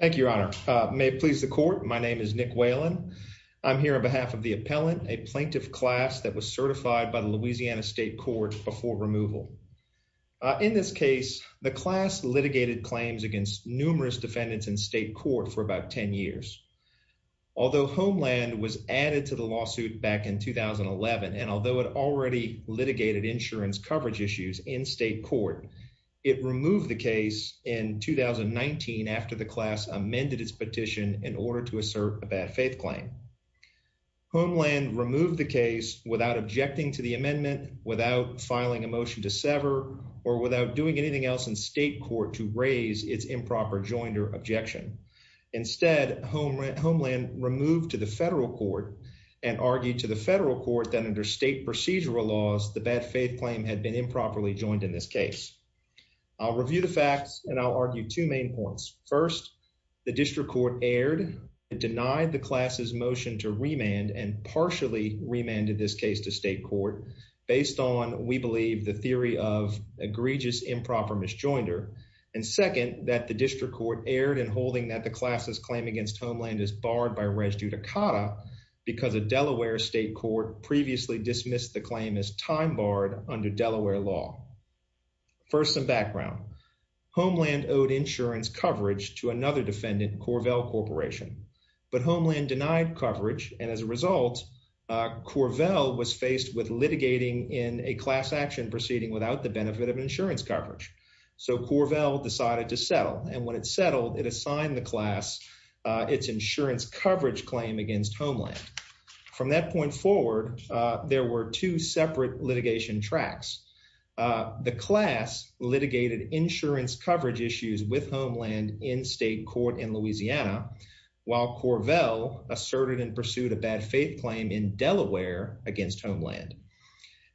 Thank you, Your Honor. May it please the court. My name is Nick Whalen. I'm here on behalf of the appellant, a plaintiff class that was certified by the Louisiana State Court before removal. In this case, the class litigated claims against numerous defendants in state court for about 10 years. Although Homeland was added to the lawsuit back in 2011, and although it already litigated insurance coverage issues in state court, it removed the case in 2019 after the class amended its petition in order to assert a bad faith claim. Homeland removed the case without objecting to the amendment, without filing a motion to sever, or without doing anything else in state court to raise its improper joinder objection. Instead, Homeland removed to the federal court and argued that under state procedural laws, the bad faith claim had been improperly joined in this case. I'll review the facts, and I'll argue two main points. First, the district court erred and denied the class's motion to remand and partially remanded this case to state court based on, we believe, the theory of egregious improper misjoinder. And second, that the district court erred in holding that the class's claim against Homeland is barred by res judicata because a Delaware state court previously dismissed the claim as time barred under Delaware law. First, some background. Homeland owed insurance coverage to another defendant, Corvell Corporation. But Homeland denied coverage, and as a result, Corvell was faced with litigating in a class action proceeding without the benefit of insurance coverage. So Corvell decided to settle, and when it settled, it assigned the class its insurance coverage claim against Homeland. From that point forward, there were two separate litigation tracks. The class litigated insurance coverage issues with Homeland in state court in Louisiana, while Corvell asserted and pursued a bad faith claim in Delaware against Homeland.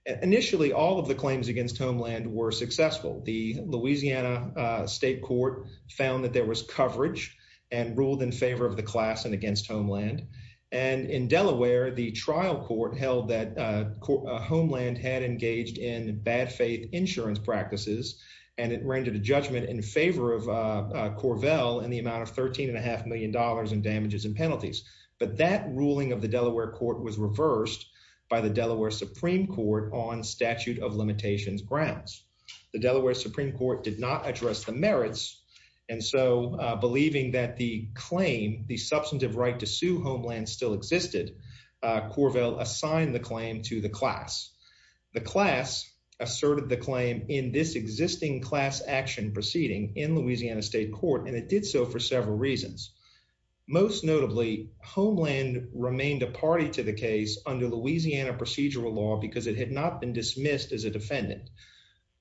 Initially, all of the claims against Homeland were successful. The Louisiana state court found that there was coverage and ruled in favor of the class and against Homeland. And in Delaware, the trial court held that Homeland had engaged in bad faith insurance practices, and it rendered a judgment in favor of Corvell in the amount of $13.5 million in damages and penalties. But that ruling of the Delaware court was reversed by the Delaware Supreme Court on statute of limitations grounds. The Delaware Supreme Court did not address the merits, and so believing that the claim, the substantive right to sue Homeland still existed, Corvell assigned the claim to the class. The class asserted the claim in this existing class action proceeding in Louisiana state court, and it did so for several reasons. Most notably, Homeland remained a party to the case under Louisiana procedural law because it had not been dismissed as a defendant.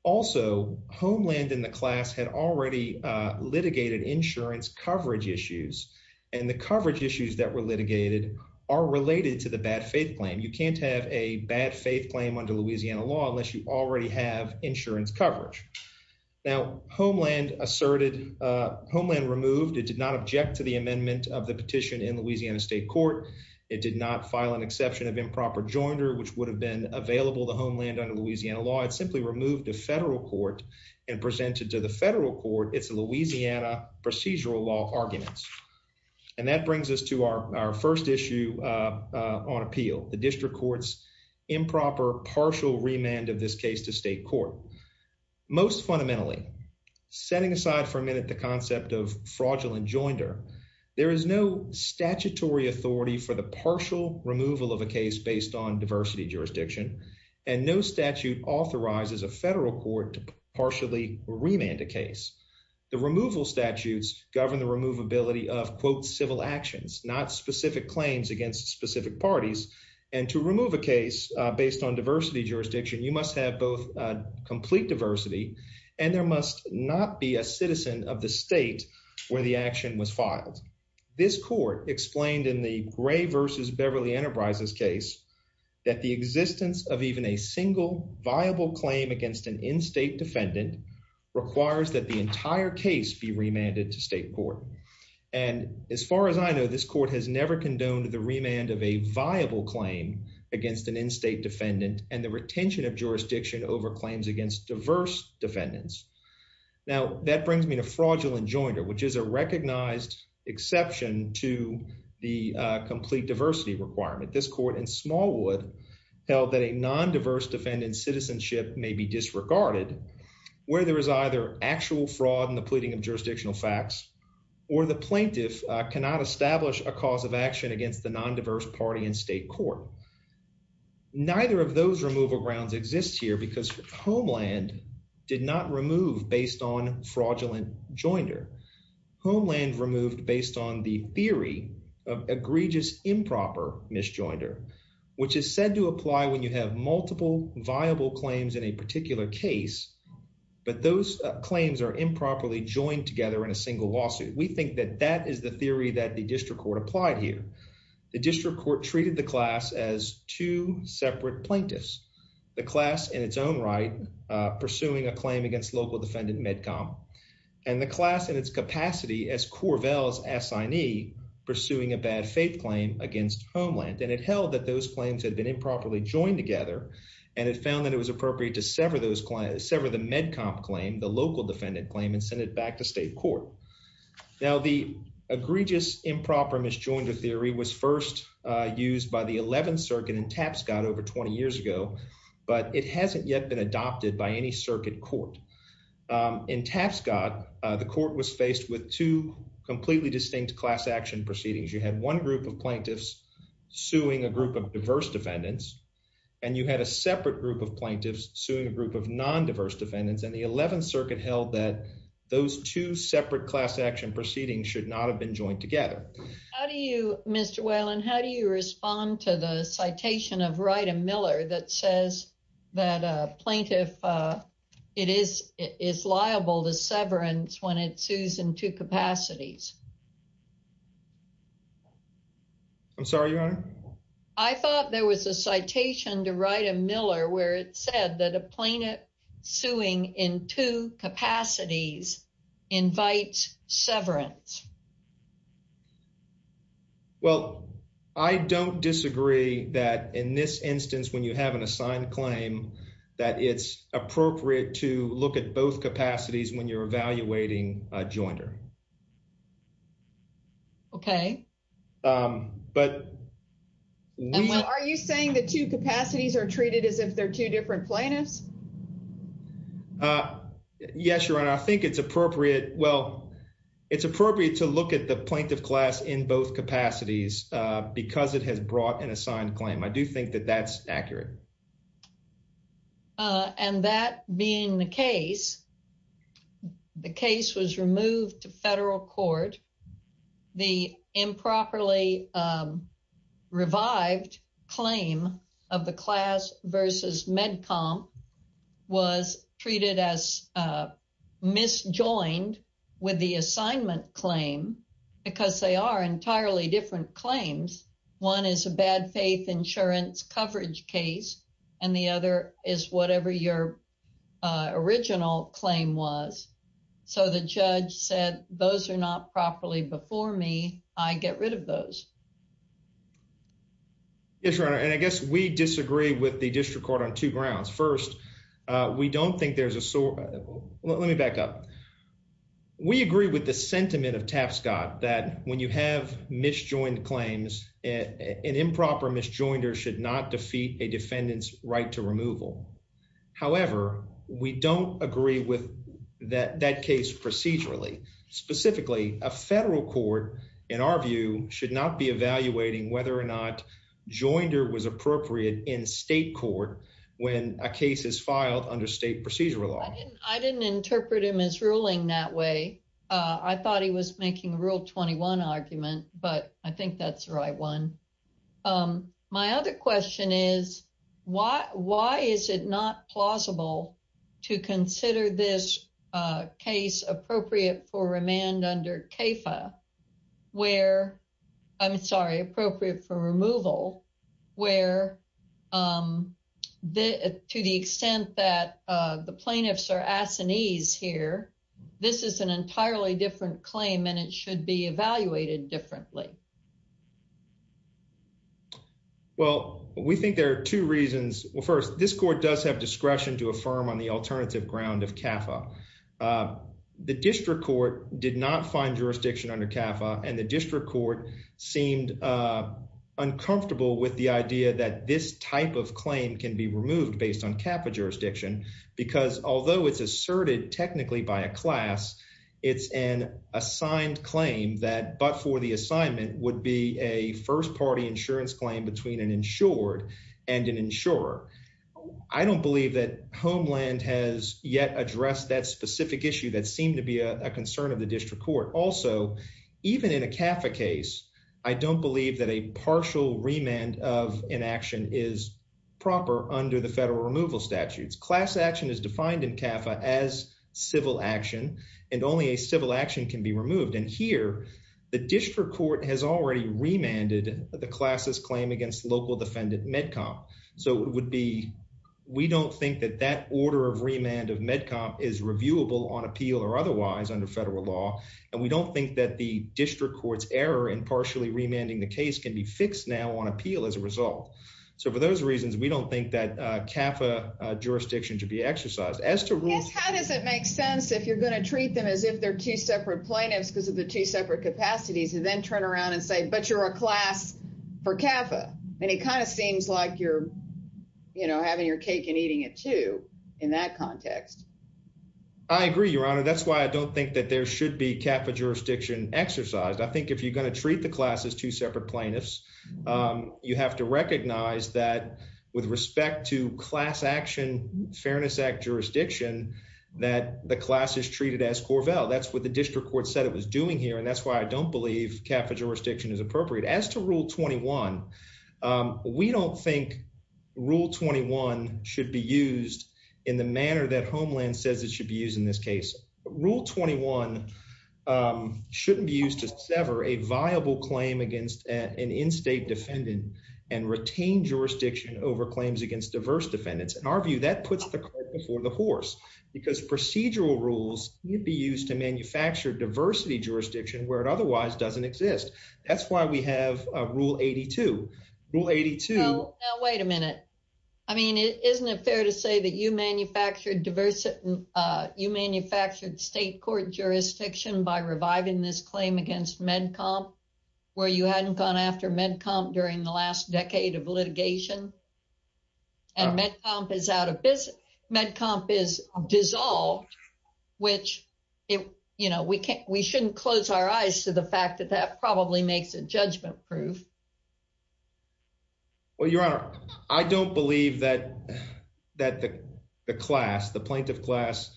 Also, Homeland and the class had already litigated insurance coverage issues, and the coverage issues that were litigated are related to the bad faith claim. You can't have a bad faith claim under Louisiana law unless you already have insurance amendment of the petition in Louisiana state court. It did not file an exception of improper joinder, which would have been available to Homeland under Louisiana law. It simply removed the federal court and presented to the federal court its Louisiana procedural law arguments. And that brings us to our first issue on appeal, the district court's improper partial remand of this case to state court. Most fundamentally, setting aside for a minute the concept of there is no statutory authority for the partial removal of a case based on diversity jurisdiction, and no statute authorizes a federal court to partially remand a case. The removal statutes govern the removability of quote civil actions, not specific claims against specific parties. And to remove a case based on diversity jurisdiction, you must have both complete diversity and there must not be a citizen of the state where the action was filed. This court explained in the Gray versus Beverly Enterprises case that the existence of even a single viable claim against an in-state defendant requires that the entire case be remanded to state court. And as far as I know, this court has never condoned the remand of a viable claim against an in-state defendant, and the retention of jurisdiction over claims against diverse defendants. Now that brings me to fraudulent jointer, which is a recognized exception to the complete diversity requirement. This court in Smallwood held that a non-diverse defendant's citizenship may be disregarded, where there is either actual fraud in the pleading of jurisdictional facts, or the plaintiff cannot establish a cause of action against the non-diverse party in state court. Neither of those removal grounds exist here because Homeland did not remove based on fraudulent jointer. Homeland removed based on the theory of egregious improper misjoinder, which is said to apply when you have multiple viable claims in a particular case, but those claims are improperly joined together in a single lawsuit. We think that that is the theory that the district court applied here. The district court treated the class as two separate plaintiffs, the class in its own right pursuing a claim against local defendant MEDCOM, and the class in its capacity as Corvell's assignee pursuing a bad faith claim against Homeland. And it held that those claims had been improperly joined together, and it found that it was appropriate to sever those claims, sever the MEDCOM claim, the local defendant claim, and send it back to state court. Now the egregious improper misjoinder theory was first used by the 11th Circuit in Tapscott over 20 years ago, but it hasn't yet been adopted by any circuit court. In Tapscott, the court was faced with two completely distinct class action proceedings. You had one group of plaintiffs suing a group of diverse defendants, and you had a separate group of plaintiffs suing a group of non-diverse defendants, and the 11th Circuit held that those two separate class action proceedings should not have been joined together. How do you, Mr. Whalen, how do you respond to the citation of Wright and Miller that says that a plaintiff is liable to severance when it sues in two capacities? I'm sorry, Your Honor? I thought there was a citation to Wright and Miller where it said that a plaintiff suing in two capacities invites severance. Well, I don't disagree that in this instance when you have an assigned claim that it's appropriate to look at both capacities when you're evaluating a joinder. Okay. But, are you saying the two capacities are treated as if they're two different plaintiffs? Yes, Your Honor. I think it's appropriate, well, it's appropriate to look at the plaintiff class in both capacities because it has brought an assigned claim. I do think that that's accurate. And that being the case, the case was removed to federal court. The improperly revived claim of the class versus MedCom was treated as misjoined with the assignment claim because they are entirely different claims. One is a bad faith insurance coverage case, and the other is whatever your original claim was. So, the judge said, those are not properly before me. I get rid of those. Yes, Your Honor. And I guess we disagree with the district court on two grounds. First, we don't think there's a... Let me back up. We agree with the sentiment of Tapscott that when you have misjoined claims, an improper misjoinder should not defeat a defendant's right to removal. However, we don't agree with that case procedurally. Specifically, a federal court, in our view, should not be evaluating whether or not joinder was appropriate in state court when a case is filed under state procedural law. I didn't interpret him as ruling that way. I thought he was making a Rule 21 argument, but I think that's the right one. My other question is, why is it not plausible to consider this case appropriate for remand under CAFA where... I'm sorry, appropriate for removal where to the extent that the plaintiffs are here. This is an entirely different claim and it should be evaluated differently. Well, we think there are two reasons. Well, first, this court does have discretion to affirm on the alternative ground of CAFA. The district court did not find jurisdiction under CAFA and the district court seemed uncomfortable with the idea that this type of claim can be asserted technically by a class. It's an assigned claim that, but for the assignment, would be a first party insurance claim between an insured and an insurer. I don't believe that Homeland has yet addressed that specific issue that seemed to be a concern of the district court. Also, even in a CAFA case, I don't believe that a partial remand of inaction is proper under the civil action and only a civil action can be removed. And here, the district court has already remanded the class's claim against local defendant MedCom. So it would be, we don't think that that order of remand of MedCom is reviewable on appeal or otherwise under federal law. And we don't think that the district court's error in partially remanding the case can be fixed now on appeal as a result. So for those reasons, we don't think that CAFA jurisdiction should be exercised. How does it make sense if you're going to treat them as if they're two separate plaintiffs, because of the two separate capacities and then turn around and say, but you're a class for CAFA. And it kind of seems like you're, you know, having your cake and eating it too in that context. I agree, Your Honor. That's why I don't think that there should be CAFA jurisdiction exercised. I think if you're going to treat the class as two separate plaintiffs, you have to recognize that with respect to class action, Fairness Act jurisdiction, that the class is treated as Corvell. That's what the district court said it was doing here. And that's why I don't believe CAFA jurisdiction is appropriate. As to Rule 21, we don't think Rule 21 should be used in the manner that Homeland says it should be used in this case. Rule 21 shouldn't be used to sever a viable claim against an in-state defendant and retain jurisdiction over claims against diverse defendants. In our view, that puts the court before the horse because procedural rules need to be used to manufacture diversity jurisdiction where it otherwise doesn't exist. That's why we have a Rule 82. Rule 82. Now, wait a minute. I mean, isn't it fair to say that you manufactured state court jurisdiction by reviving this claim against MedComp where you hadn't gone after MedComp during the last decade of litigation? And MedComp is out of business. MedComp is dissolved, which we shouldn't close our proof. Well, Your Honor, I don't believe that the plaintiff class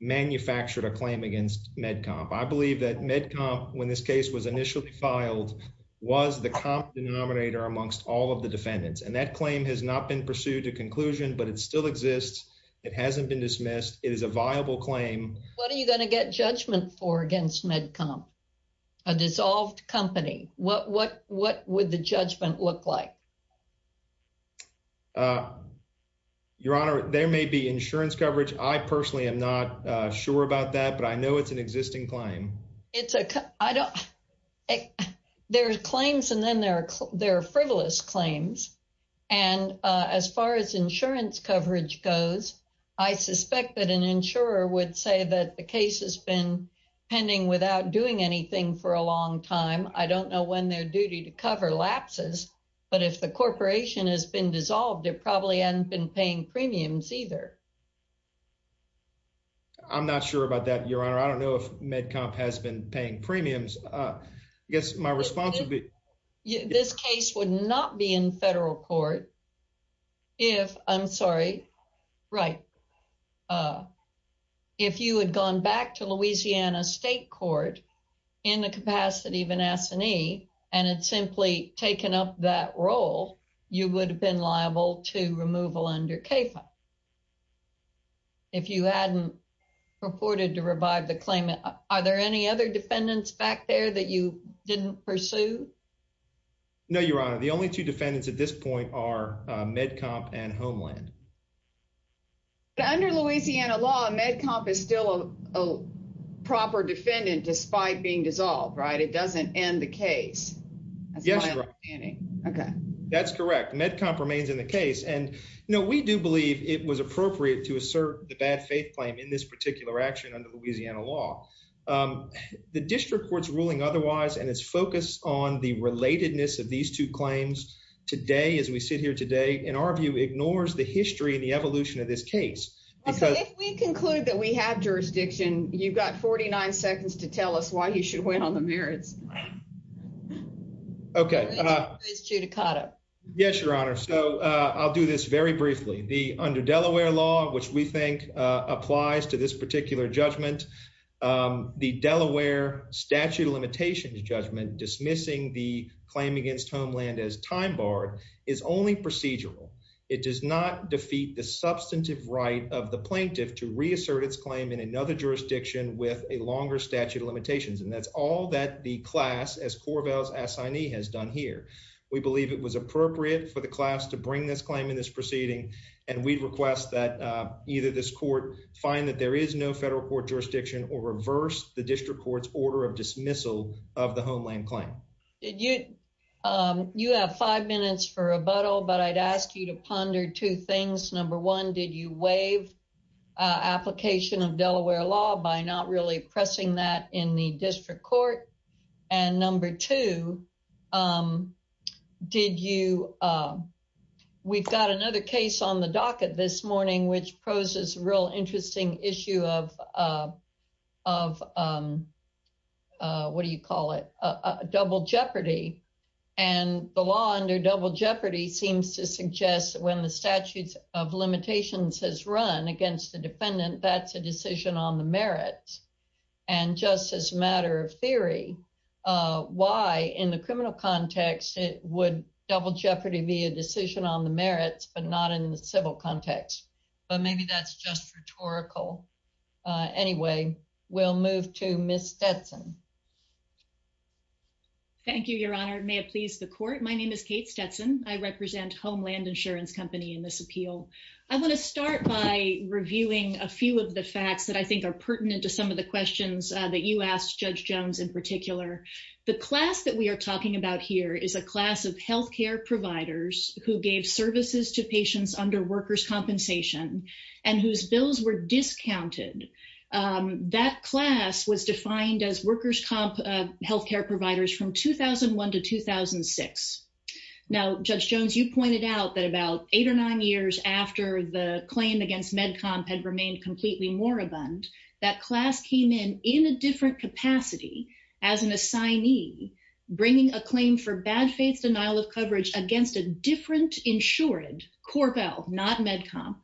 manufactured a claim against MedComp. I believe that MedComp, when this case was initially filed, was the comp denominator amongst all of the defendants. And that claim has not been pursued to conclusion, but it still exists. It hasn't been dismissed. It is a viable claim. What are you going to get judgment for against MedComp, a dissolved company? What would the judgment look like? Your Honor, there may be insurance coverage. I personally am not sure about that, but I know it's an existing claim. There are claims and then there are frivolous claims. And as far as insurance coverage goes, I suspect that an insurer would say that the case has been pending without doing anything for a long time. I don't know when their duty to cover lapses, but if the corporation has been dissolved, it probably hasn't been paying premiums either. I'm not sure about that, Your Honor. I don't know if MedComp has been paying premiums. I guess my response would be- This case would not be in federal court if, I'm sorry, right, if you had gone back to Louisiana State Court in the capacity of an S&E and had simply taken up that role, you would have been liable to removal under CAFA. If you hadn't purported to revive the claim, are there any other defendants back there that you didn't pursue? No, Your Honor. The only two defendants at this point are MedComp and Homeland. But under Louisiana law, MedComp is still a proper defendant despite being dissolved, right? It doesn't end the case. Yes, Your Honor. That's my understanding. Okay. That's correct. MedComp remains in the case. And, you know, we do believe it was appropriate to assert the bad faith claim in this particular action under Louisiana law. The district court's ruling otherwise and its focus on the relatedness of these two claims today, as we sit here today, in our view, ignores the history and the evolution of this case. If we conclude that we have jurisdiction, you've got 49 seconds to tell us why you should wait on the merits. Okay. Yes, Your Honor. So I'll do this very briefly. Under Delaware law, which we think applies to this particular judgment, the Delaware statute of limitations judgment dismissing the claim against Homeland as time-barred is only procedural. It does not defeat the substantive right of the plaintiff to reassert its claim in another jurisdiction with a longer statute of limitations. And that's all that the class, as Corvall's assignee, has done here. We believe it was appropriate for the class to bring this claim in this proceeding, and we'd request that either this court find that there is no federal court jurisdiction or reverse the district court's order of dismissal of the Homeland claim. You have five minutes for rebuttal, but I'd ask you to ponder two things. Number one, did you waive application of Delaware law by not really pressing that in the district court? And number two, we've got another case on the docket this morning, which poses a real interesting issue of, what do you call it, double jeopardy. And the law under double jeopardy seems to suggest when the statutes of limitations has run against the defendant, that's a decision on the merits. And just as a matter of theory, why in the criminal context, it would double jeopardy be a decision on the merits, but not in the civil context. But maybe that's just rhetorical. Anyway, we'll move to Ms. Stetson. Thank you, Your Honor. May it please the court. My name is Kate Stetson. I represent Homeland Insurance Company in this appeal. I want to start by reviewing a few of the facts that I think are the questions that you asked Judge Jones in particular. The class that we are talking about here is a class of health care providers who gave services to patients under workers' compensation and whose bills were discounted. That class was defined as workers' health care providers from 2001 to 2006. Now, Judge Jones, you pointed out that about eight or nine years after the in a different capacity as an assignee, bringing a claim for bad faith denial of coverage against a different insured corpel, not MedCom,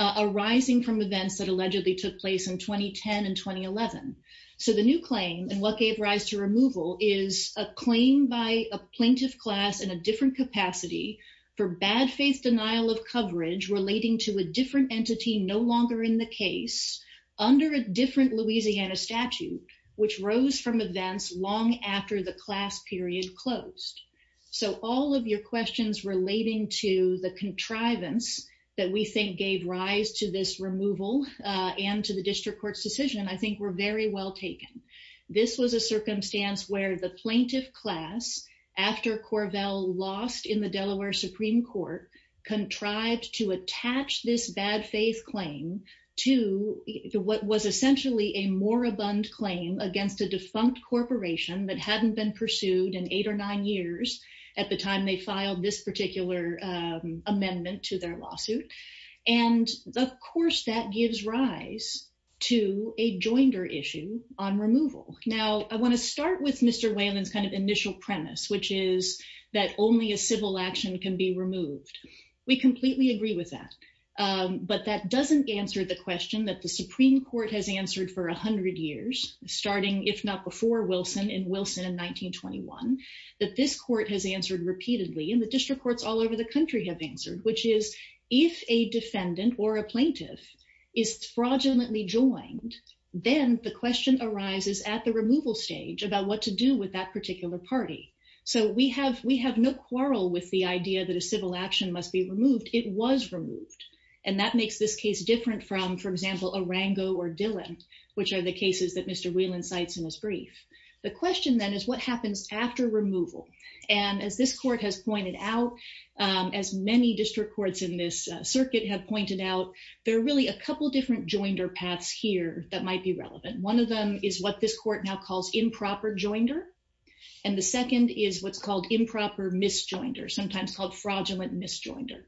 arising from events that allegedly took place in 2010 and 2011. So the new claim and what gave rise to removal is a claim by a plaintiff class in a different capacity for bad faith denial of coverage relating to a different entity no longer in the case under a different Louisiana statute, which rose from events long after the class period closed. So all of your questions relating to the contrivance that we think gave rise to this removal and to the district court's decision, I think were very well taken. This was a circumstance where the plaintiff class, after Corvell lost in the Delaware Supreme Court, contrived to attach this bad faith claim to what was essentially a moribund claim against a defunct corporation that hadn't been pursued in eight or nine years at the time they filed this particular amendment to their lawsuit. And of course, that gives rise to a joinder issue on removal. Now, I want to start with Mr. Whalen's kind of initial premise, which is that only a civil action can be removed. We completely agree with that. But that doesn't answer the question that the Supreme Court has answered for 100 years, starting if not before Wilson in Wilson in 1921, that this court has answered repeatedly and the district courts all over the country have answered, which is if a defendant or a plaintiff is fraudulently joined, then the question arises at the removal stage about what to do with that particular party. So we have we have no quarrel with the idea that civil action must be removed. It was removed. And that makes this case different from, for example, Arango or Dillon, which are the cases that Mr. Whalen cites in his brief. The question then is what happens after removal. And as this court has pointed out, as many district courts in this circuit have pointed out, there are really a couple different joinder paths here that might be relevant. One of them is what this court now calls improper joinder. And the second is what's called fraudulent misjoinder.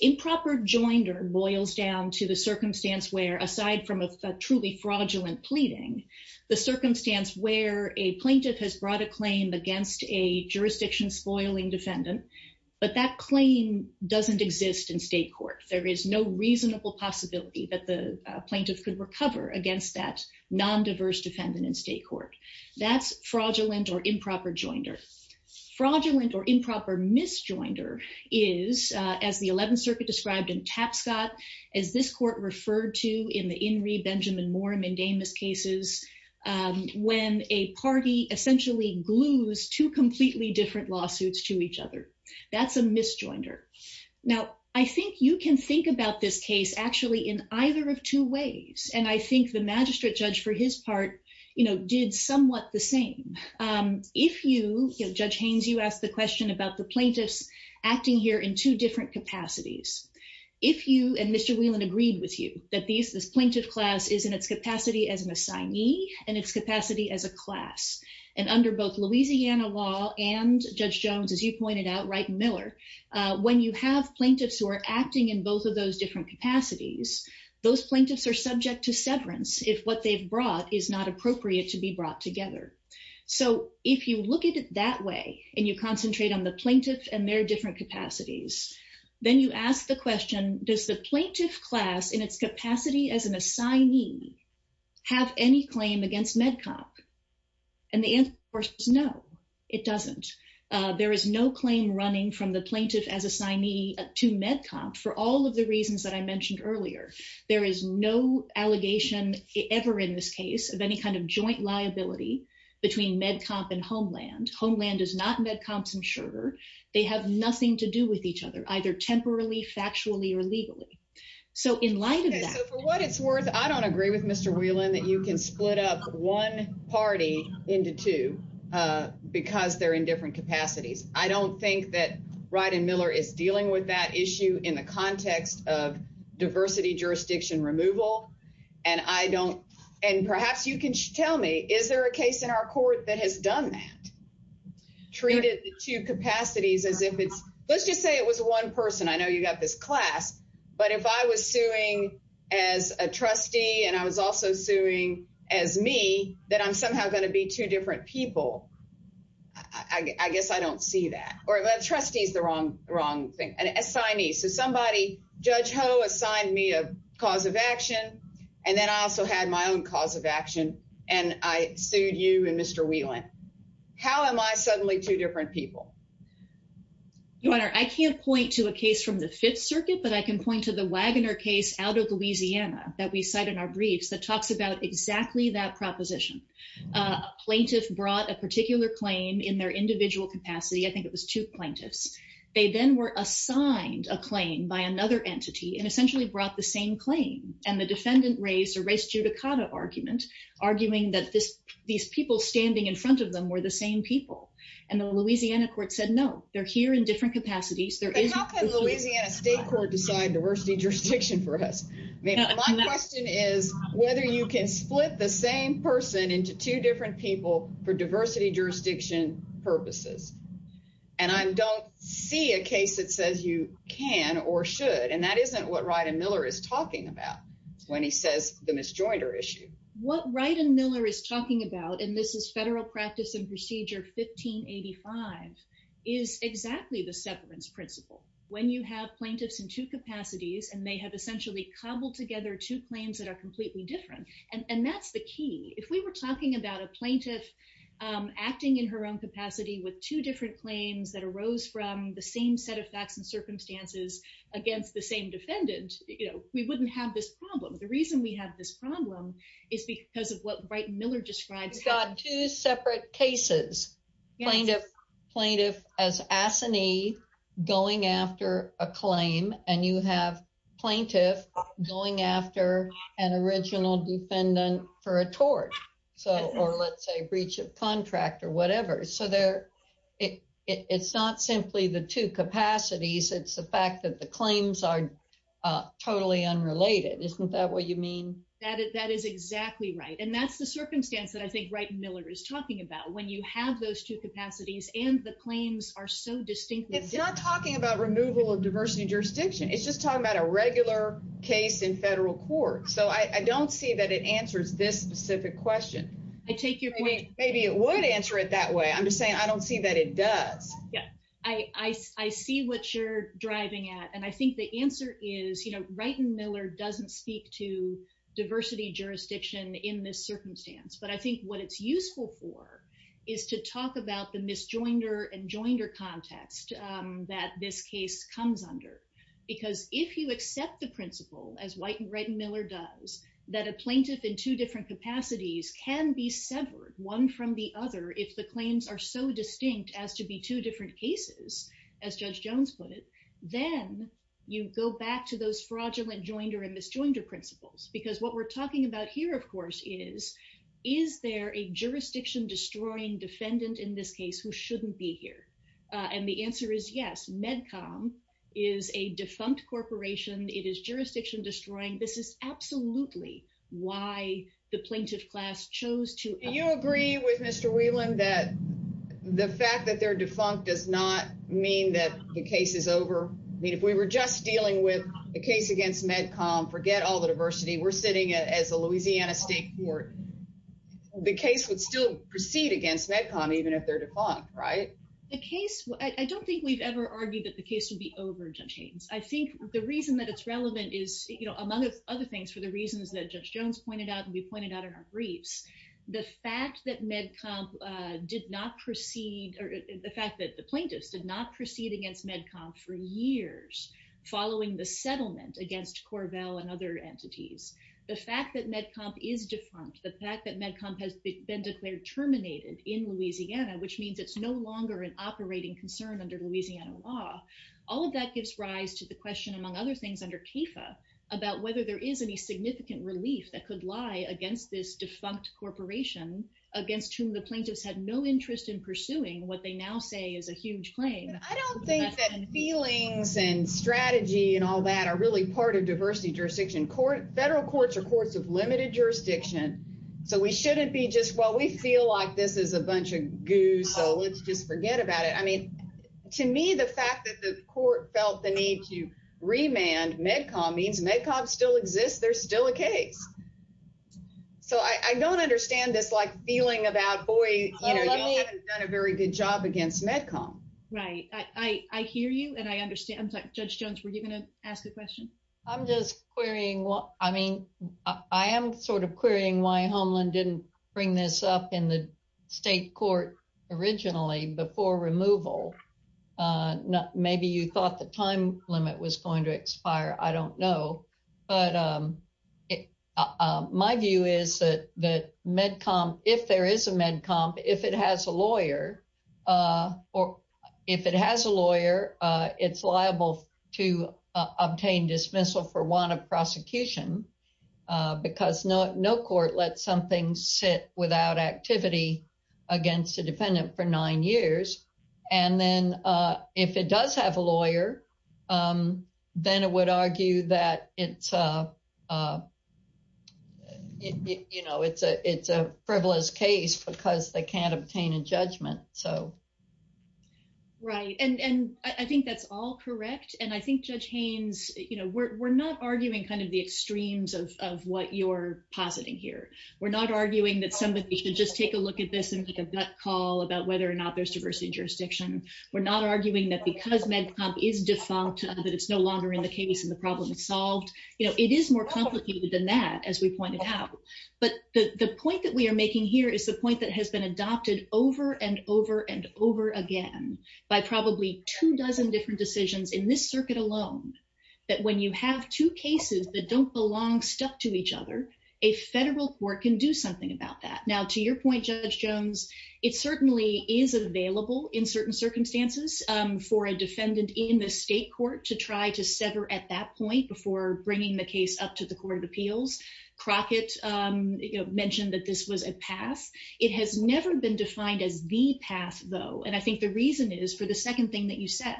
Improper joinder boils down to the circumstance where, aside from a truly fraudulent pleading, the circumstance where a plaintiff has brought a claim against a jurisdiction spoiling defendant, but that claim doesn't exist in state court. There is no reasonable possibility that the plaintiff could recover against that non-diverse defendant in state court. That's improper misjoinder is, as the 11th Circuit described in Tapscott, as this court referred to in the In re Benjamin Morin and Damas cases, when a party essentially glues two completely different lawsuits to each other. That's a misjoinder. Now, I think you can think about this case actually in either of two ways. And I think the magistrate judge for his part, you know, did somewhat the same. If you, Judge Haynes, you asked the question about the plaintiffs acting here in two different capacities. If you, and Mr. Whelan agreed with you, that this plaintiff class is in its capacity as an assignee and its capacity as a class. And under both Louisiana law and Judge Jones, as you pointed out, Wright and Miller, when you have plaintiffs who are acting in both of those different capacities, those plaintiffs are subject to severance if what they've brought is not appropriate to be brought together. So if you look at it that way, and you concentrate on the plaintiff and their different capacities, then you ask the question, does the plaintiff class in its capacity as an assignee have any claim against MedComp? And the answer, of course, is no, it doesn't. There is no claim running from the plaintiff as assignee to MedComp for all of the reasons that I mentioned earlier. There is no allegation ever in this case of any kind of joint liability between MedComp and Homeland. Homeland is not MedComp's insurer. They have nothing to do with each other, either temporally, factually, or legally. So in light of that... Okay, so for what it's worth, I don't agree with Mr. Whelan that you can split up one party into two because they're in different capacities. I don't think that Ryden Miller is dealing with that issue in the context of diversity jurisdiction removal, and perhaps you can tell me, is there a case in our court that has done that? Treated the two capacities as if it's... Let's just say it was one person. I know you got this class, but if I was suing as a trustee, and I was also suing as me, that I'm somehow going to be two trustees. The wrong thing. An assignee. So somebody, Judge Ho assigned me a cause of action, and then I also had my own cause of action, and I sued you and Mr. Whelan. How am I suddenly two different people? Your Honor, I can't point to a case from the Fifth Circuit, but I can point to the Waggoner case out of Louisiana that we cite in our briefs that talks about exactly that proposition. A plaintiff brought a particular claim in their individual capacity. I think it was two plaintiffs. They then were assigned a claim by another entity and essentially brought the same claim. And the defendant raised a race judicata argument, arguing that these people standing in front of them were the same people. And the Louisiana court said, no, they're here in different capacities. How can Louisiana State Court decide diversity jurisdiction for us? My question is whether you can split the same person into two different people for diversity jurisdiction purposes. And I don't see a case that says you can or should, and that isn't what Ryden Miller is talking about when he says the misjoinder issue. What Ryden Miller is talking about, and this is Federal Practice and Procedure 1585, is exactly the severance principle. When you have plaintiffs in two capacities and they have essentially cobbled together two claims that are completely different. And that's the key. If we were talking about a plaintiff acting in her own capacity with two different claims that arose from the same set of facts and circumstances against the same defendant, we wouldn't have this problem. The reason we have this problem is because of what Ryden Miller describes. You've got two separate cases, plaintiff as assinee going after a claim and you have plaintiff going after an original defendant for a tort or let's say breach of contract or whatever. So it's not simply the two capacities. It's the fact that the claims are totally unrelated. Isn't that what you mean? That is exactly right. And that's the circumstance that I think Ryden Miller is talking about. When you have those two capacities and the claims are so distinctly different. It's not talking about removal of diversity jurisdiction. It's just about a regular case in federal court. So I don't see that it answers this specific question. I take your point. Maybe it would answer it that way. I'm just saying I don't see that it does. Yeah. I see what you're driving at. And I think the answer is Ryden Miller doesn't speak to diversity jurisdiction in this circumstance. But I think what it's useful for is to talk about the principle as White and Ryden Miller does that a plaintiff in two different capacities can be severed one from the other. If the claims are so distinct as to be two different cases, as Judge Jones put it, then you go back to those fraudulent joinder and misjoinder principles. Because what we're talking about here, of course, is, is there a jurisdiction destroying defendant in this case who shouldn't be here? And the answer is yes. MedCom is a defunct corporation. It is jurisdiction destroying. This is absolutely why the plaintiff class chose to. You agree with Mr. Whelan that the fact that they're defunct does not mean that the case is over. I mean, if we were just dealing with the case against MedCom, forget all the diversity, we're sitting as a Louisiana state court, the case would still proceed against MedCom, even if they're defunct, right? The case, I don't think we've ever argued that the case would be over, Judge Haynes. I think the reason that it's relevant is, you know, among other things, for the reasons that Judge Jones pointed out and we pointed out in our briefs, the fact that MedCom did not proceed, or the fact that the plaintiffs did not proceed against MedCom for years following the settlement against Corvell and other entities, the fact that MedCom is defunct, the fact that MedCom has been declared terminated in Louisiana, which means it's no longer an operating concern under Louisiana law, all of that gives rise to the question, among other things, under CAFA about whether there is any significant relief that could lie against this defunct corporation against whom the plaintiffs had no interest in pursuing what they now say is a huge claim. I don't think that feelings and strategy and all that are really part of diversity jurisdiction. Federal courts are courts of limited jurisdiction, so we shouldn't be just, well, we feel like this is a bunch of goo, so let's just forget about it. I mean, to me, the fact that the court felt the need to remand MedCom means MedCom still exists, there's still a case. So I don't understand this, like, feeling about, boy, you know, you haven't done a very good job against MedCom. Right. I hear you and I understand. Judge Jones, were you going to ask a question? I'm just querying, I mean, I am sort of querying why Homeland didn't bring this up in the state court originally before removal. Maybe you thought the time limit was going to expire, I don't know, but my view is that MedCom, if there is a MedCom, if it has a lawyer or if it has a lawyer, it's liable to obtain dismissal for one of prosecution because no court lets something sit without activity against a defendant for nine years. And then if it does have a lawyer, then it would argue that it's a, you know, it's a it's a frivolous case because they can't obtain a judgment. So. Right. And I think that's all correct. And I think Judge Haynes, you know, we're not arguing kind of the extremes of what you're positing here. We're not arguing that somebody should just take a look at this and make a gut call about whether or not there's jurisdiction. We're not arguing that because MedCom is defunct, that it's no longer in the case and the problem is solved. You know, it is more complicated than that, as we pointed out. But the point that we are making here is the point that has been adopted over and over and over again by probably two dozen different decisions in this circuit alone, that when you have two cases that don't belong stuck to each other, a federal court can do something about that. Now, to your point, Judge Jones, it certainly is available in certain circumstances for a defendant in the state court to try to sever at that point before bringing the case up to the Court of Appeals. Crockett mentioned that this was a path. It has never been defined as the path, though. And I think the reason is for the second thing that you said,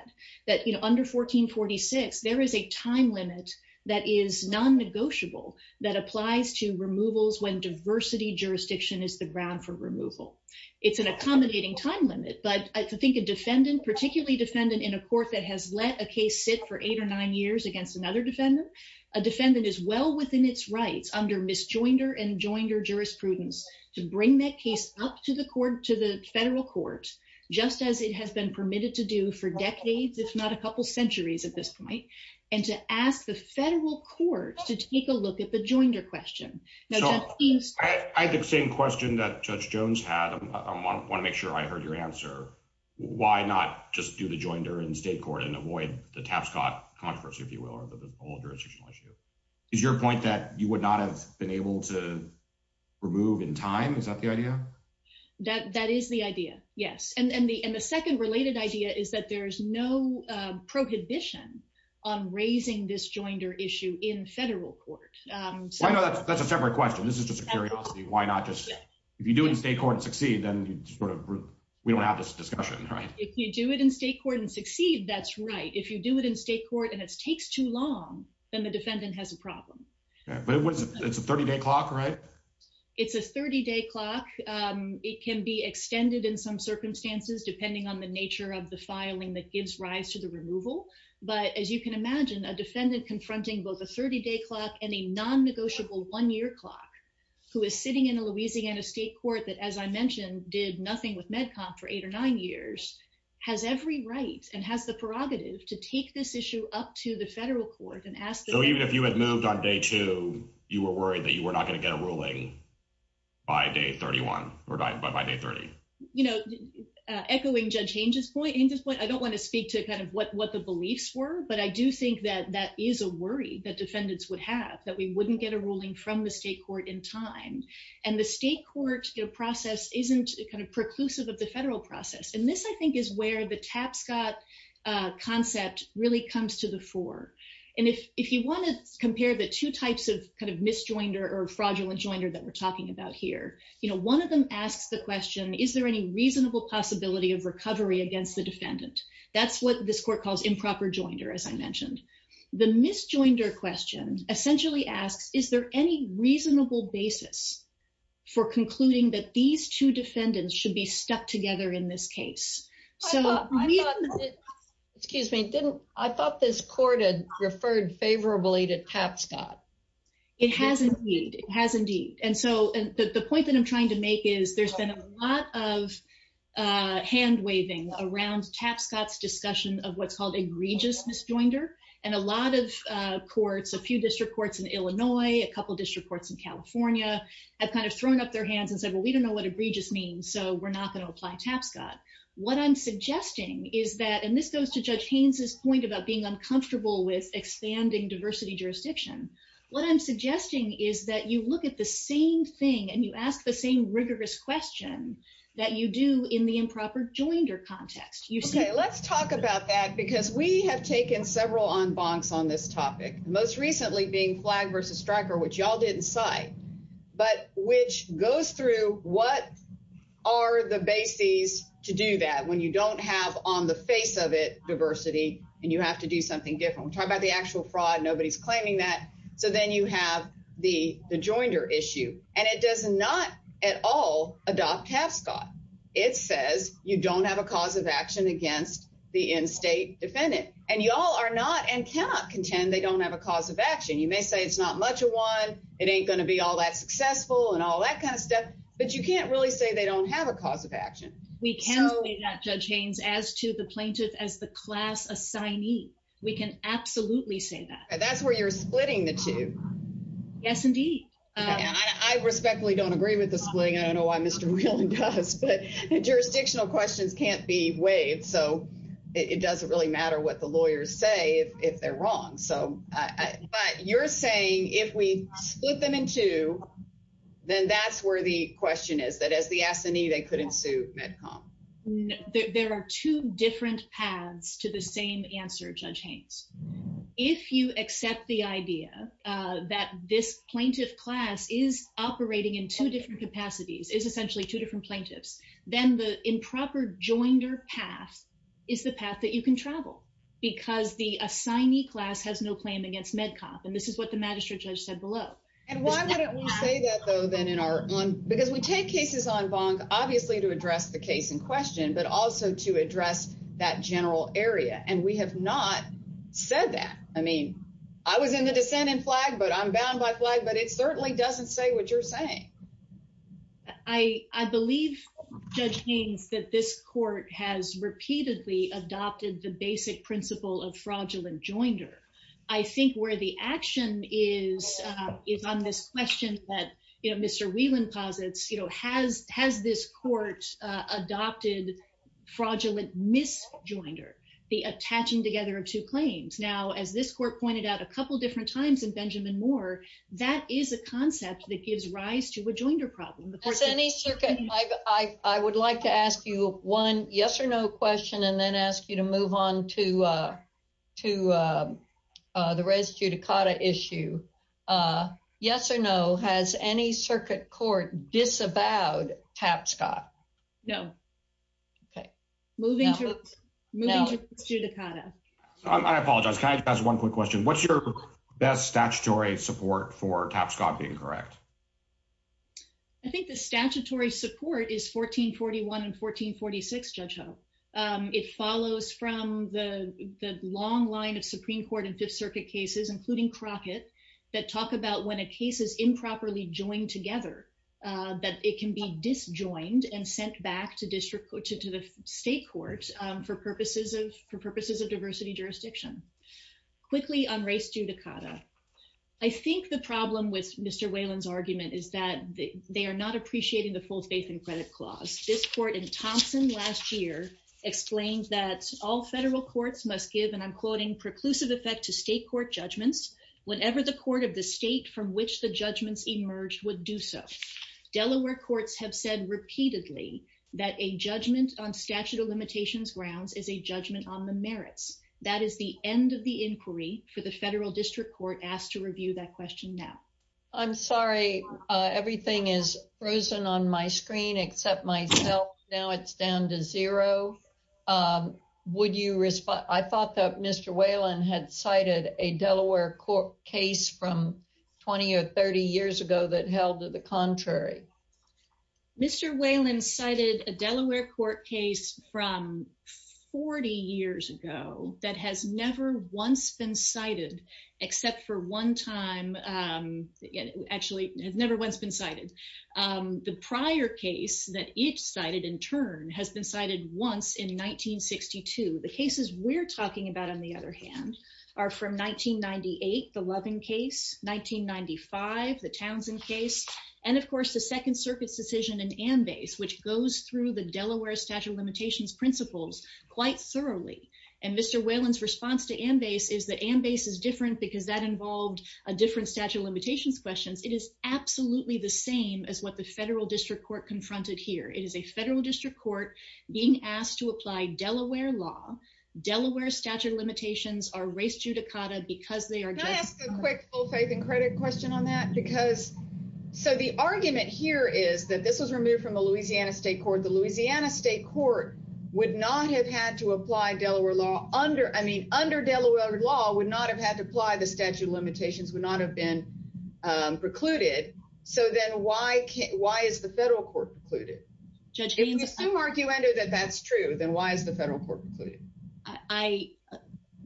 that, you know, under 1446, there is a time limit that is non-negotiable that applies to removals when diversity jurisdiction is the ground for removal. It's an accommodating time limit, but I think a defendant, particularly defendant in a court that has let a case sit for eight or nine years against another defendant, a defendant is well within its rights under misjoinder and joinder jurisprudence to bring that case up to the court, to the federal court, just as it has been permitted to do for decades, if not a couple centuries at this point, and to ask the federal court to take a look at the joinder question. I had the same question that Judge Jones had. I want to make sure I heard your answer. Why not just do the joinder in state court and avoid the Tapscott controversy, if you will, or the whole jurisdictional issue? Is your point that you would not have been able to remove in time? Is that the idea? That is the idea, yes. And the second related idea is that there is no prohibition on raising this joinder issue in federal court. That's a separate question. This is just a curiosity. If you do it in state court and succeed, then we don't have this discussion. If you do it in state court and succeed, that's right. If you do it in state court and it takes too long, then the defendant has a problem. It's a 30-day clock, right? It's a 30-day clock. It can be extended in some circumstances, depending on the nature of the filing that gives rise to the removal. But as you can imagine, a defendant confronting both a 30-day clock and a non-negotiable one-year clock, who is sitting in a Louisiana state court that, as I mentioned, did nothing with MedCom for eight or nine years, has every right and has the prerogative to take this issue up to the federal court and ask— So even if you had moved on day two, you were worried that you were not going to get a ruling by day 31 or by day 30? You know, echoing Judge Hange's point, I don't want to speak to kind of what the beliefs were, but I do think that that is a worry that defendants would have, that we wouldn't get a ruling from the state court in time. And the state court process isn't kind of preclusive of the federal process. And this, I think, is where the Tapscott concept really comes to the fore. And if you want to compare the two types of kind of fraudulent joinder that we're talking about here, you know, one of them asks the question, is there any reasonable possibility of recovery against the defendant? That's what this court calls improper joinder, as I mentioned. The misjoinder question essentially asks, is there any reasonable basis for concluding that these two defendants should be stuck together in this case? Excuse me. I thought this court had referred favorably to Tapscott. It has indeed. It has indeed. And so the point that I'm trying to make is there's been a lot of hand-waving around Tapscott's discussion of what's called egregious misjoinder. And a lot of courts, a few district courts in Illinois, a couple district courts in California, have kind of thrown up their hands and said, well, we don't know what egregious means, so we're not going to apply Tapscott. What I'm suggesting is that, and this goes to Judge Hange's point about being uncomfortable with expanding diversity jurisdiction, what I'm suggesting is that you look at the same thing and you ask the same rigorous question that you do in the improper joinder context. Okay, let's talk about that because we have taken several en bancs on this topic, most recently being flagged versus striker, which y'all didn't cite, but which goes through what are the bases to do that when you don't have on the face of it diversity and you have to do something different. We're talking about the actual fraud, nobody's claiming that. So then you have the joinder issue and it does not at all adopt Tapscott. It says you don't have a cause of action against the in-state defendant and y'all are not and cannot contend they don't have a cause of action. You may say it's not much of one, it ain't going to be all that successful and all that kind of stuff, but you can't really say they don't have a cause of action. We can say that, Judge Haynes, as to the plaintiff as the class assignee, we can absolutely say that. That's where you're splitting the two. Yes, indeed. I respectfully don't agree with the splitting. I don't know why Mr. Whelan does, but jurisdictional questions can't be weighed. So it doesn't really matter what the lawyers say if they're wrong. But you're saying if we split them in two, then that's where the question is, that as the assignee, they could ensue MedCom. There are two different paths to the same answer, Judge Haynes. If you accept the idea that this plaintiff class is operating in two different capacities, is essentially two different plaintiffs, then the improper joinder path is the path that you can travel because the assignee class has no claim against MedCom. And this is what the magistrate judge said below. And why wouldn't we say that though, then in our own, because we take cases on bonk, obviously to address the case in question, but also to address that general area. And we have not said that. I mean, I was in the dissent and flag, but I'm bound by flag, but it certainly doesn't say what you're saying. I believe, Judge Haynes, that this court has repeatedly adopted the basic principle of fraudulent joinder. I think where the action is on this question that Mr. Whelan posits, has this court adopted fraudulent misjoinder, the attaching together of two claims? Now, as this court pointed out a couple of different times in Benjamin Moore, that is a concept that gives rise to a joinder problem. As any circuit, I would like to ask you one yes or no question and then ask you to move on to the res judicata issue. Yes or no, has any circuit court disavowed Tapscott? No. Okay. Moving to the judicata. I apologize. Can I just ask one quick question? What's your best statutory support for Tapscott being correct? I think the statutory support is 1441 and 1446, Judge Hope. It follows from the long line of Supreme Court and Fifth Circuit cases, including Crockett, that talk about when a case is improperly joined together, that it can be disjoined and sent back to the state courts for purposes of diversity jurisdiction. Quickly on race judicata, I think the problem with Mr. Whelan's argument is that they are not appreciating the full faith and credit clause. This court in Thompson last year explained that all federal courts must give, and I'm quoting, preclusive effect to state court judgments whenever the court of the state from which the judgments emerged would so. Delaware courts have said repeatedly that a judgment on statute of limitations grounds is a judgment on the merits. That is the end of the inquiry for the federal district court asked to review that question now. I'm sorry. Everything is frozen on my screen except myself. Now it's down to zero. I thought that Mr. Whelan had cited a Delaware court case from 20 or 30 years ago that held to the contrary. Mr. Whelan cited a Delaware court case from 40 years ago that has never once been cited except for one time, actually has never once been cited. The prior case that it cited in turn has been cited once in 1962. The cases we're talking about on the other hand are from 1998, the Loving case, 1995, the Townsend case, and of course the Second Circuit's decision in Ambase, which goes through the Delaware statute of limitations principles quite thoroughly. And Mr. Whelan's response to Ambase is that Ambase is different because that involved a different statute of limitations questions. It is absolutely the same as what the federal district court confronted here. It is a federal district court being asked to apply Delaware law. Delaware statute of limitations are race judicata because they are- Can I ask a quick full faith and credit question on that? Because, so the argument here is that this was removed from the Louisiana state court. The Louisiana state court would not have had to apply Delaware law under, I mean, under Delaware law would not have had to apply the statute of limitations, would not have been precluded. So then why is the federal court precluded? If we assume arguendo that that's true, then why is the federal court precluded? I,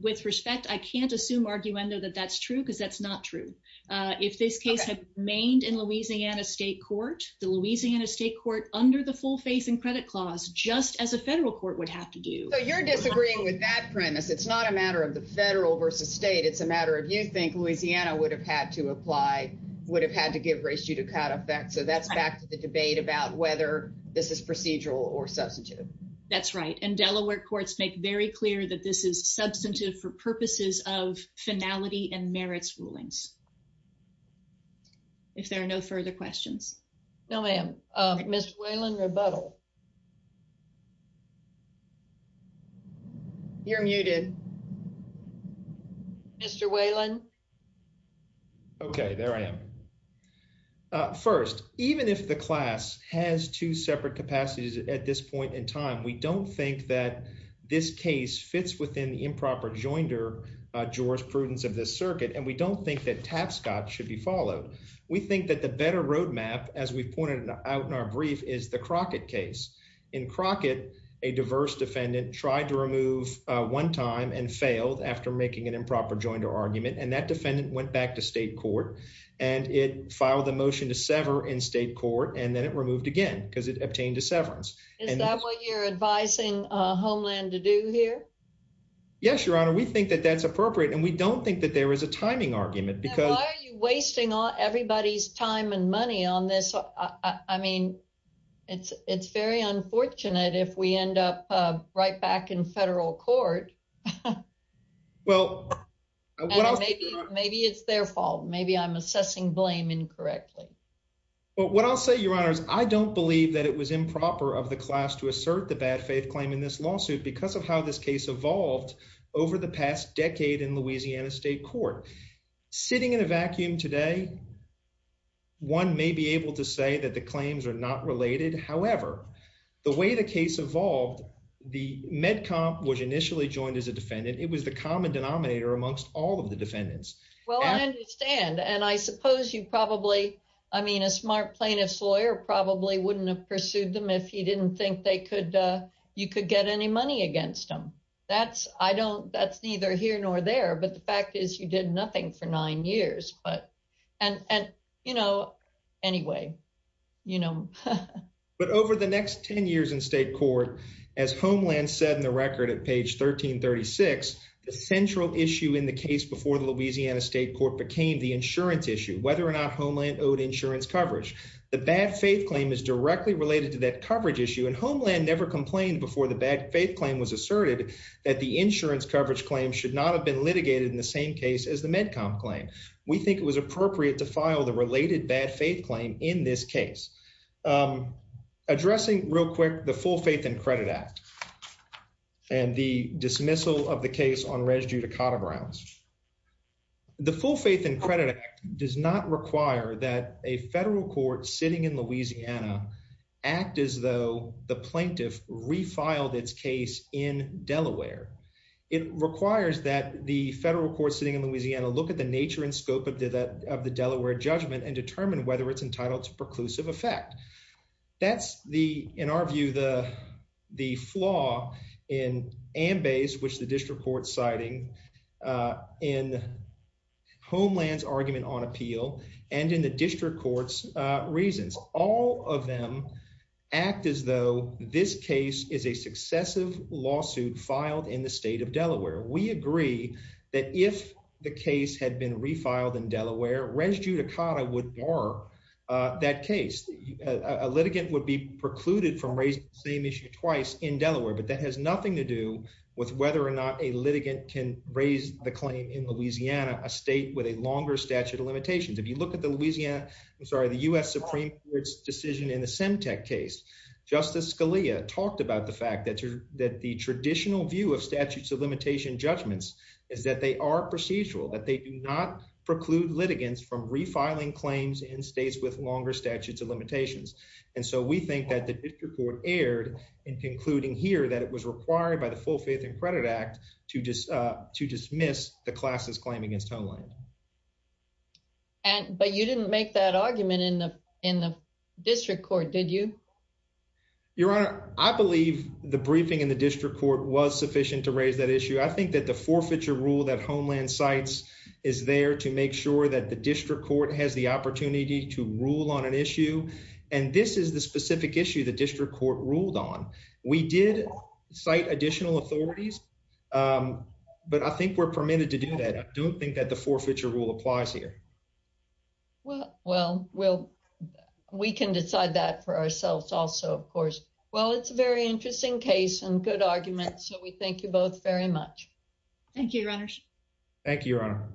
with respect, I can't assume arguendo that that's true because that's not true. If this case had remained in Louisiana state court, the Louisiana state court, under the full faith and credit clause, just as a federal court would have to do. So you're disagreeing with that premise. It's not a matter of the federal versus state. It's a matter of you think Louisiana would have had to apply, would have had to give race judicata effect. So that's back to the debate about whether this is procedural or substantive. That's right. And Delaware courts make very clear that this is substantive for purposes of finality and merits rulings. If there are no further questions. No, ma'am. Mr. Whalen, rebuttal. You're muted. Mr. Whalen. Okay, there I am. First, even if the class has two separate capacities at this point in time, we don't think that this case fits within the improper joinder jurisprudence of this circuit. And we don't think that Tapscott should be followed. We think that the better roadmap, as we've pointed out in our brief, is the Crockett case. In Crockett, a diverse defendant tried to remove one time and failed after making an improper joinder argument. And that defendant went back to state court and it filed the motion to sever in state court. And then it removed again because obtained a severance. Is that what you're advising Homeland to do here? Yes, your honor. We think that that's appropriate. And we don't think that there is a timing argument because why are you wasting everybody's time and money on this? I mean, it's very unfortunate if we end up right back in federal court. Well, maybe it's their fault. Maybe I'm assessing blame incorrectly. But what I'll say, your honors, I don't believe that it was improper of the class to assert the bad faith claim in this lawsuit because of how this case evolved over the past decade in Louisiana state court. Sitting in a vacuum today, one may be able to say that the claims are not related. However, the way the case evolved, the med comp was initially joined as a defendant. It was the I mean, a smart plaintiff's lawyer probably wouldn't have pursued them if he didn't think they could. You could get any money against them. That's I don't that's neither here nor there. But the fact is you did nothing for nine years. But and you know, anyway, you know, but over the next 10 years in state court, as Homeland said in the record at page 1336, the central issue in the case before the Louisiana state court became the insurance issue, whether or not Homeland owed insurance coverage. The bad faith claim is directly related to that coverage issue. And Homeland never complained before the bad faith claim was asserted that the insurance coverage claim should not have been litigated in the same case as the med comp claim. We think it was appropriate to file the related bad faith claim in this case. Addressing real quick the full faith and credit act and the dismissal of the case on res judicata grounds. The full faith and credit act does not require that a federal court sitting in Louisiana act as though the plaintiff refiled its case in Delaware. It requires that the federal court sitting in Louisiana look at the nature and scope of that of the Delaware judgment and determine whether it's entitled to preclusive effect. That's the in our view, the the flaw in and base, which the district court citing in Homeland's argument on appeal and in the district court's reasons, all of them act as though this case is a successive lawsuit filed in the state of Delaware. We agree that if the case had been refiled in Delaware, res judicata would bar that case. A litigant would be precluded from raising the same issue twice in Delaware, but that has nothing to do with whether or not a litigant can raise the claim in Louisiana, a state with a longer statute of limitations. If you look at the Louisiana, I'm sorry, the U.S. Supreme Court's decision in the Semtec case, Justice Scalia talked about the fact that that the traditional view of statutes of limitation judgments is that they are procedural, that they do not preclude litigants from refiling claims in states with longer statutes of limitations. And so we think that the district court erred in concluding here that it was required by the Full Faith and Credit Act to just to dismiss the class's claim against Homeland. And but you didn't make that argument in the in the district court, did you? Your Honor, I believe the briefing in the district court was sufficient to raise that issue. I think that the rule that Homeland cites is there to make sure that the district court has the opportunity to rule on an issue. And this is the specific issue the district court ruled on. We did cite additional authorities, but I think we're permitted to do that. I don't think that the forfeiture rule applies here. Well, well, well, we can decide that for ourselves also, of course. Well, it's a very interesting case and good argument. So we thank you both very much. Thank you, Your Honor. Thank you, Your Honor.